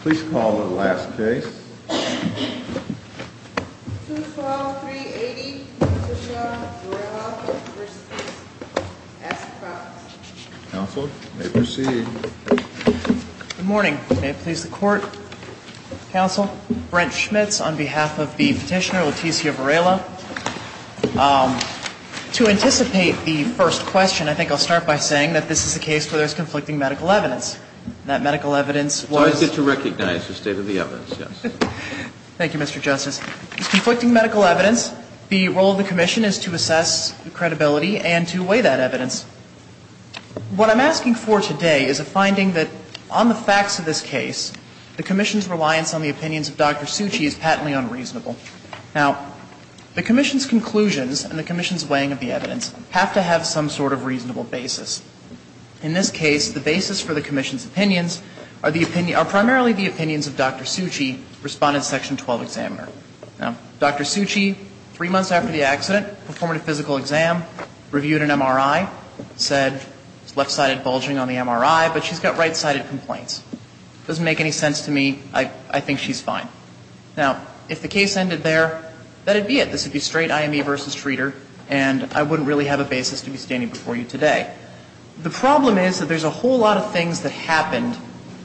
Please call the last case. 212-380, Leticia Varela v. Ask the Province. Counsel, you may proceed. Good morning. May it please the Court? Counsel, Brent Schmitz on behalf of the petitioner Leticia Varela. To anticipate the first question, I think I'll start by saying that this is a case where there's conflicting medical evidence. That medical evidence was… It's always good to recognize the state of the evidence, yes. Thank you, Mr. Justice. It's conflicting medical evidence. The role of the Commission is to assess the credibility and to weigh that evidence. What I'm asking for today is a finding that on the facts of this case, the Commission's reliance on the opinions of Dr. Suchi is patently unreasonable. Now, the Commission's conclusions and the Commission's weighing of the evidence have to have some sort of reasonable basis. In this case, the basis for the Commission's opinions are primarily the opinions of Dr. Suchi, Respondent Section 12 Examiner. Now, Dr. Suchi, three months after the accident, performed a physical exam, reviewed an MRI, said, it's left-sided bulging on the MRI, but she's got right-sided complaints. It doesn't make any sense to me. I think she's fine. Now, if the case ended there, that would be it. This would be straight IME v. Treater, and I wouldn't really have a basis to be standing before you today. The problem is that there's a whole lot of things that happened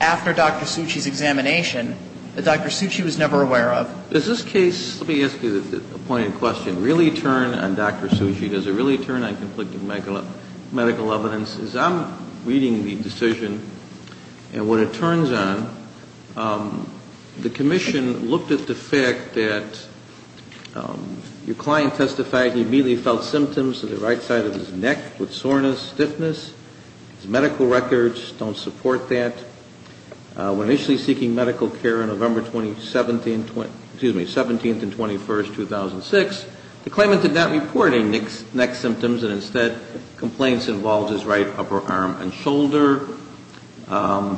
after Dr. Suchi's examination that Dr. Suchi was never aware of. Does this case, let me ask you a pointed question, really turn on Dr. Suchi? Does it really turn on conflicting medical evidence? As I'm reading the decision and what it turns on, the Commission looked at the fact that your client testified he immediately felt symptoms of the right side of his neck with soreness, stiffness. His medical records don't support that. When initially seeking medical care on November 17th and 21st, 2006, the claimant did not report any neck symptoms and instead complaints involved his right upper arm and shoulder.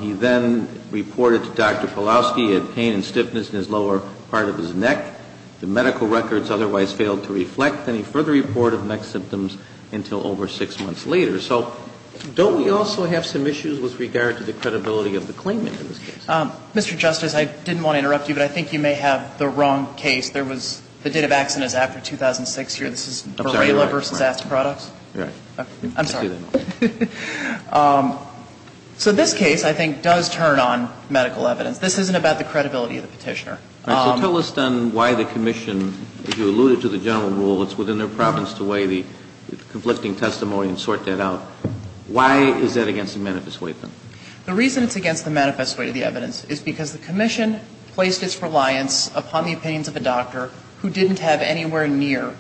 He then reported to Dr. Palowski he had pain and stiffness in his lower part of his neck. The medical records otherwise failed to reflect any further report of neck symptoms until over six months later. So don't we also have some issues with regard to the credibility of the claimant in this case? Mr. Justice, I didn't want to interrupt you, but I think you may have the wrong case. There was the date of accident is after 2006 here. This is Borrella v. Asked Products. I'm sorry. So this case, I think, does turn on medical evidence. This isn't about the credibility of the petitioner. All right. So tell us then why the commission, if you alluded to the general rule, it's within their province to weigh the conflicting testimony and sort that out. Why is that against the manifest way of the evidence? The reason it's against the manifest way of the evidence is because the commission placed its reliance upon the opinions of a doctor who didn't have anywhere near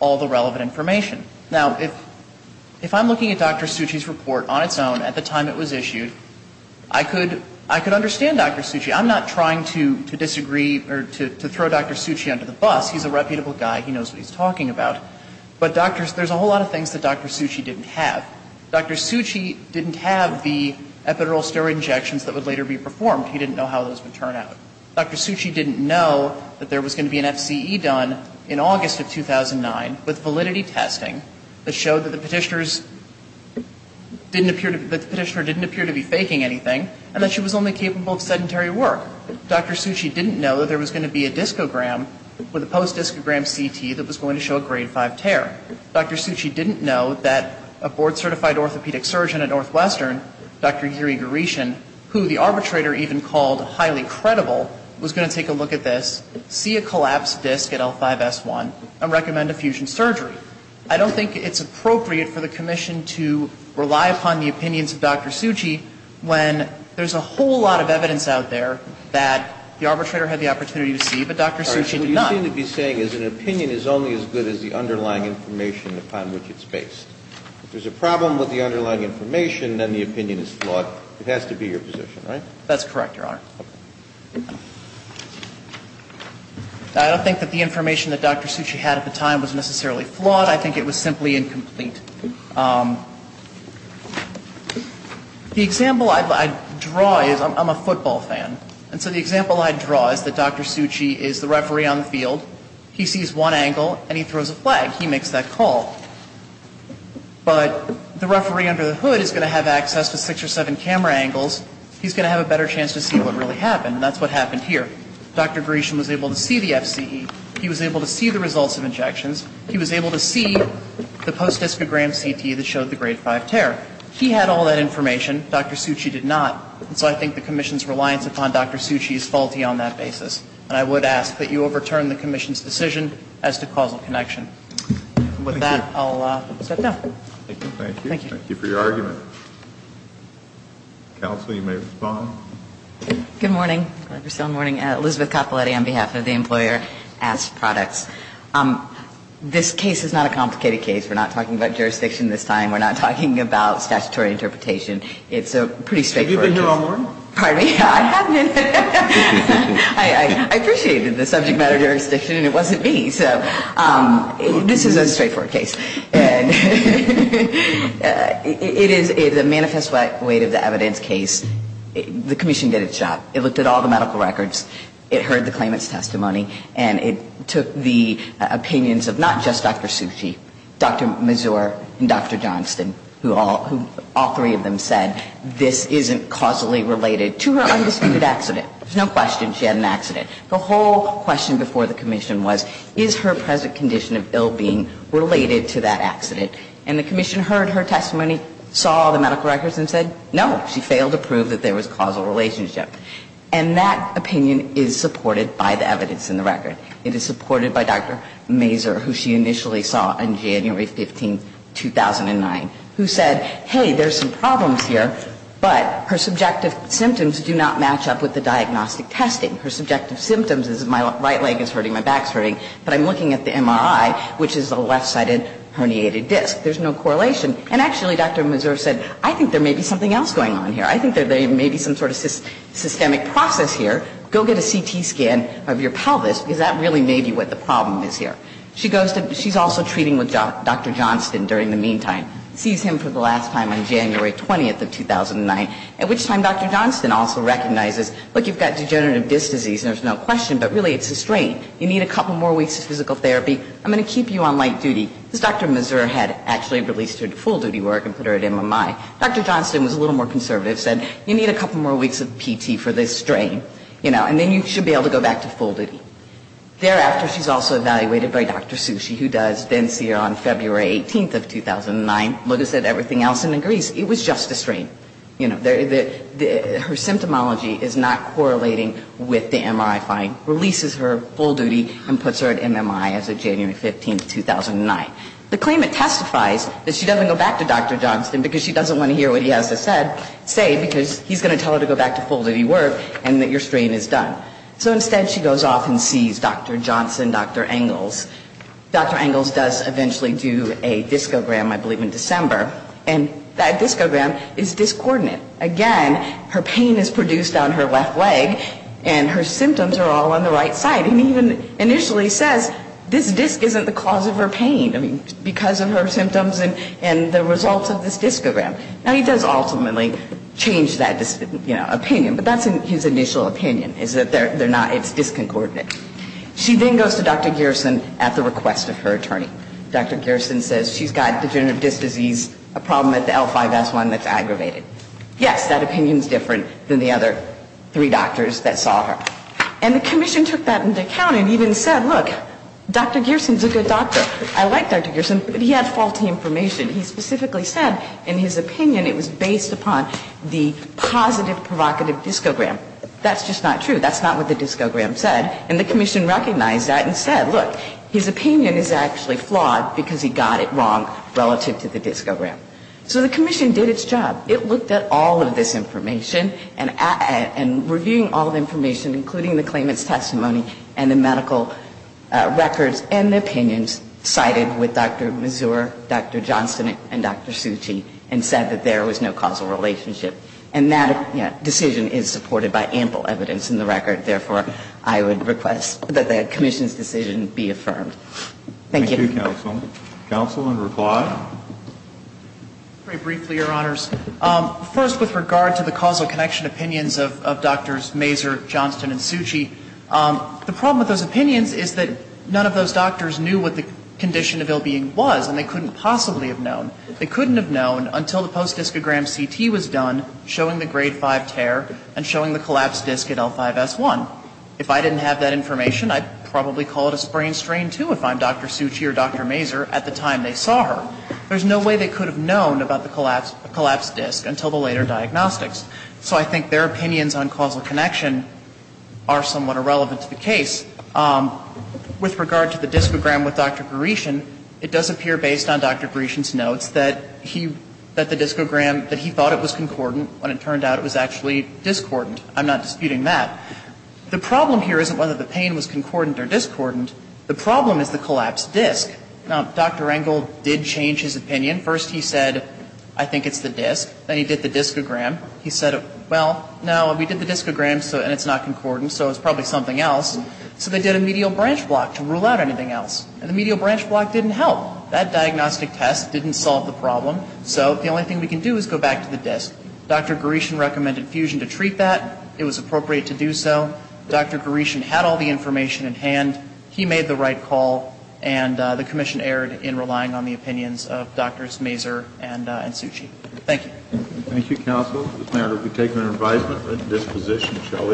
all the relevant information. Now, if I'm looking at Dr. Suchi's report on its own at the time it was issued, I could understand Dr. Suchi. I'm not trying to disagree or to throw Dr. Suchi under the bus. He's a reputable guy. He knows what he's talking about. But there's a whole lot of things that Dr. Suchi didn't have. Dr. Suchi didn't have the epidural steroid injections that would later be performed. He didn't know how those would turn out. Dr. Suchi didn't know that there was going to be an FCE done in August of 2009 with validity testing that showed that the petitioner didn't appear to be faking anything and that she was only capable of sedentary work. Dr. Suchi didn't know that there was going to be a discogram with a post-discogram CT that was going to show a grade 5 tear. Dr. Suchi didn't know that a board-certified orthopedic surgeon at Northwestern, Dr. Yuri Goreshin, who the arbitrator even called highly credible, was going to take a look at this, see a collapsed disc at L5S1, and recommend a fusion surgery. I don't think it's appropriate for the commission to rely upon the opinions of Dr. Suchi when there's a whole lot of evidence out there that the arbitrator had the opportunity to see, but Dr. Suchi did not. All right. So what you seem to be saying is an opinion is only as good as the underlying information upon which it's based. If there's a problem with the underlying information, then the opinion is flawed. It has to be your position, right? That's correct, Your Honor. Okay. I don't think that the information that Dr. Suchi had at the time was necessarily flawed. I think it was simply incomplete. The example I draw is I'm a football fan. And so the example I draw is that Dr. Suchi is the referee on the field. He sees one angle, and he throws a flag. He makes that call. But the referee under the hood is going to have access to six or seven camera angles. He's going to have a better chance to see what really happened. And that's what happened here. Dr. Gresham was able to see the FCE. He was able to see the results of injections. He was able to see the post-discogram CT that showed the grade 5 tear. He had all that information. Dr. Suchi did not. And so I think the commission's reliance upon Dr. Suchi is faulty on that basis. And I would ask that you overturn the commission's decision as to causal connection. With that, I'll step down. Thank you. Thank you for your argument. Counsel, you may respond. Good morning. Elizabeth Coppoletti on behalf of the employer. Asked products. This case is not a complicated case. We're not talking about jurisdiction this time. We're not talking about statutory interpretation. It's a pretty straightforward case. Have you been here all morning? Pardon me? I haven't. I appreciated the subject matter jurisdiction, and it wasn't me. So this is a straightforward case. It is the manifest weight of the evidence case. The commission did its job. It looked at all the medical records. It heard the claimant's testimony. And it took the opinions of not just Dr. Suchi, Dr. Mazur and Dr. Johnston, who all three of them said this isn't causally related to her undisputed accident. There's no question she had an accident. The whole question before the commission was, is her present condition of ill-being related to that accident? And the commission heard her testimony, saw the medical records, and said, no, she failed to prove that there was causal relationship. And that opinion is supported by the evidence in the record. It is supported by Dr. Mazur, who she initially saw on January 15, 2009, who said, hey, there's some problems here, but her subjective symptoms do not match up with the diagnostic testing. Her subjective symptoms is my right leg is hurting, my back is hurting, but I'm looking at the MRI, which is a left-sided herniated disc. There's no correlation. And actually, Dr. Mazur said, I think there may be something else going on here. I think there may be some sort of systemic process here. Go get a CT scan of your pelvis, because that really may be what the problem is here. She goes to – she's also treating with Dr. Johnston during the meantime, sees him for the last time on January 20 of 2009, at which time Dr. Johnston also but really it's a strain. You need a couple more weeks of physical therapy. I'm going to keep you on light duty. Because Dr. Mazur had actually released her to full duty work and put her at MMI. Dr. Johnston was a little more conservative, said you need a couple more weeks of PT for this strain, you know, and then you should be able to go back to full duty. Thereafter, she's also evaluated by Dr. Sushi, who does then see her on February Her symptomology is not correlating with the MRI find. Releases her full duty and puts her at MMI as of January 15, 2009. The claimant testifies that she doesn't go back to Dr. Johnston because she doesn't want to hear what he has to say, because he's going to tell her to go back to full duty work and that your strain is done. So instead, she goes off and sees Dr. Johnston, Dr. Engels. Dr. Engels does eventually do a discogram, I believe, in December. And that discogram is discordant. Again, her pain is produced on her left leg and her symptoms are all on the right side. And he even initially says, this disc isn't the cause of her pain. I mean, because of her symptoms and the results of this discogram. Now, he does ultimately change that, you know, opinion. But that's his initial opinion, is that they're not, it's disconcordant. She then goes to Dr. Gerson at the request of her attorney. Dr. Gerson says she's got degenerative disc disease, a problem at the L5S1 that's aggravated. Yes, that opinion's different than the other three doctors that saw her. And the commission took that into account and even said, look, Dr. Gerson's a good doctor. I like Dr. Gerson, but he had faulty information. He specifically said in his opinion it was based upon the positive provocative discogram. That's just not true. That's not what the discogram said. And the commission recognized that and said, look, his opinion is actually flawed because he got it wrong relative to the discogram. So the commission did its job. It looked at all of this information and reviewing all the information, including the claimant's testimony and the medical records and the opinions cited with Dr. Mazur, Dr. Johnson, and Dr. Suchi, and said that there was no causal relationship. And that decision is supported by ample evidence in the record. Therefore, I would request that the commission's decision be affirmed. Thank you. Thank you, counsel. Counsel in reply? Very briefly, Your Honors. First, with regard to the causal connection opinions of Drs. Mazur, Johnson, and Suchi, the problem with those opinions is that none of those doctors knew what the condition of ill-being was, and they couldn't possibly have known. They couldn't have known until the post-discogram CT was done showing the grade 5 tear and showing the collapsed disc at L5S1. If I didn't have that information, I'd probably call it a brain strain, too, if I'm Dr. Suchi or Dr. Mazur at the time they saw her. There's no way they could have known about the collapsed disc until the later diagnostics. So I think their opinions on causal connection are somewhat irrelevant to the case. With regard to the discogram with Dr. Goreshin, it does appear, based on Dr. Goreshin's notes, that the discogram, that he thought it was concordant, when it turned out it was actually discordant. I'm not disputing that. The problem here isn't whether the pain was concordant or discordant. The problem is the collapsed disc. Now, Dr. Engel did change his opinion. First he said, I think it's the disc. Then he did the discogram. He said, well, no, we did the discogram, and it's not concordant, so it's probably something else. So they did a medial branch block to rule out anything else. And the medial branch block didn't help. That diagnostic test didn't solve the problem. So the only thing we can do is go back to the disc. Dr. Goreshin recommended fusion to treat that. It was appropriate to do so. Dr. Goreshin had all the information at hand. He made the right call, and the commission erred in relying on the opinions of Drs. Mazur and Suchi. Thank you. Thank you, counsel. Mr. Mayor, if we take an advisement at this position, shall we?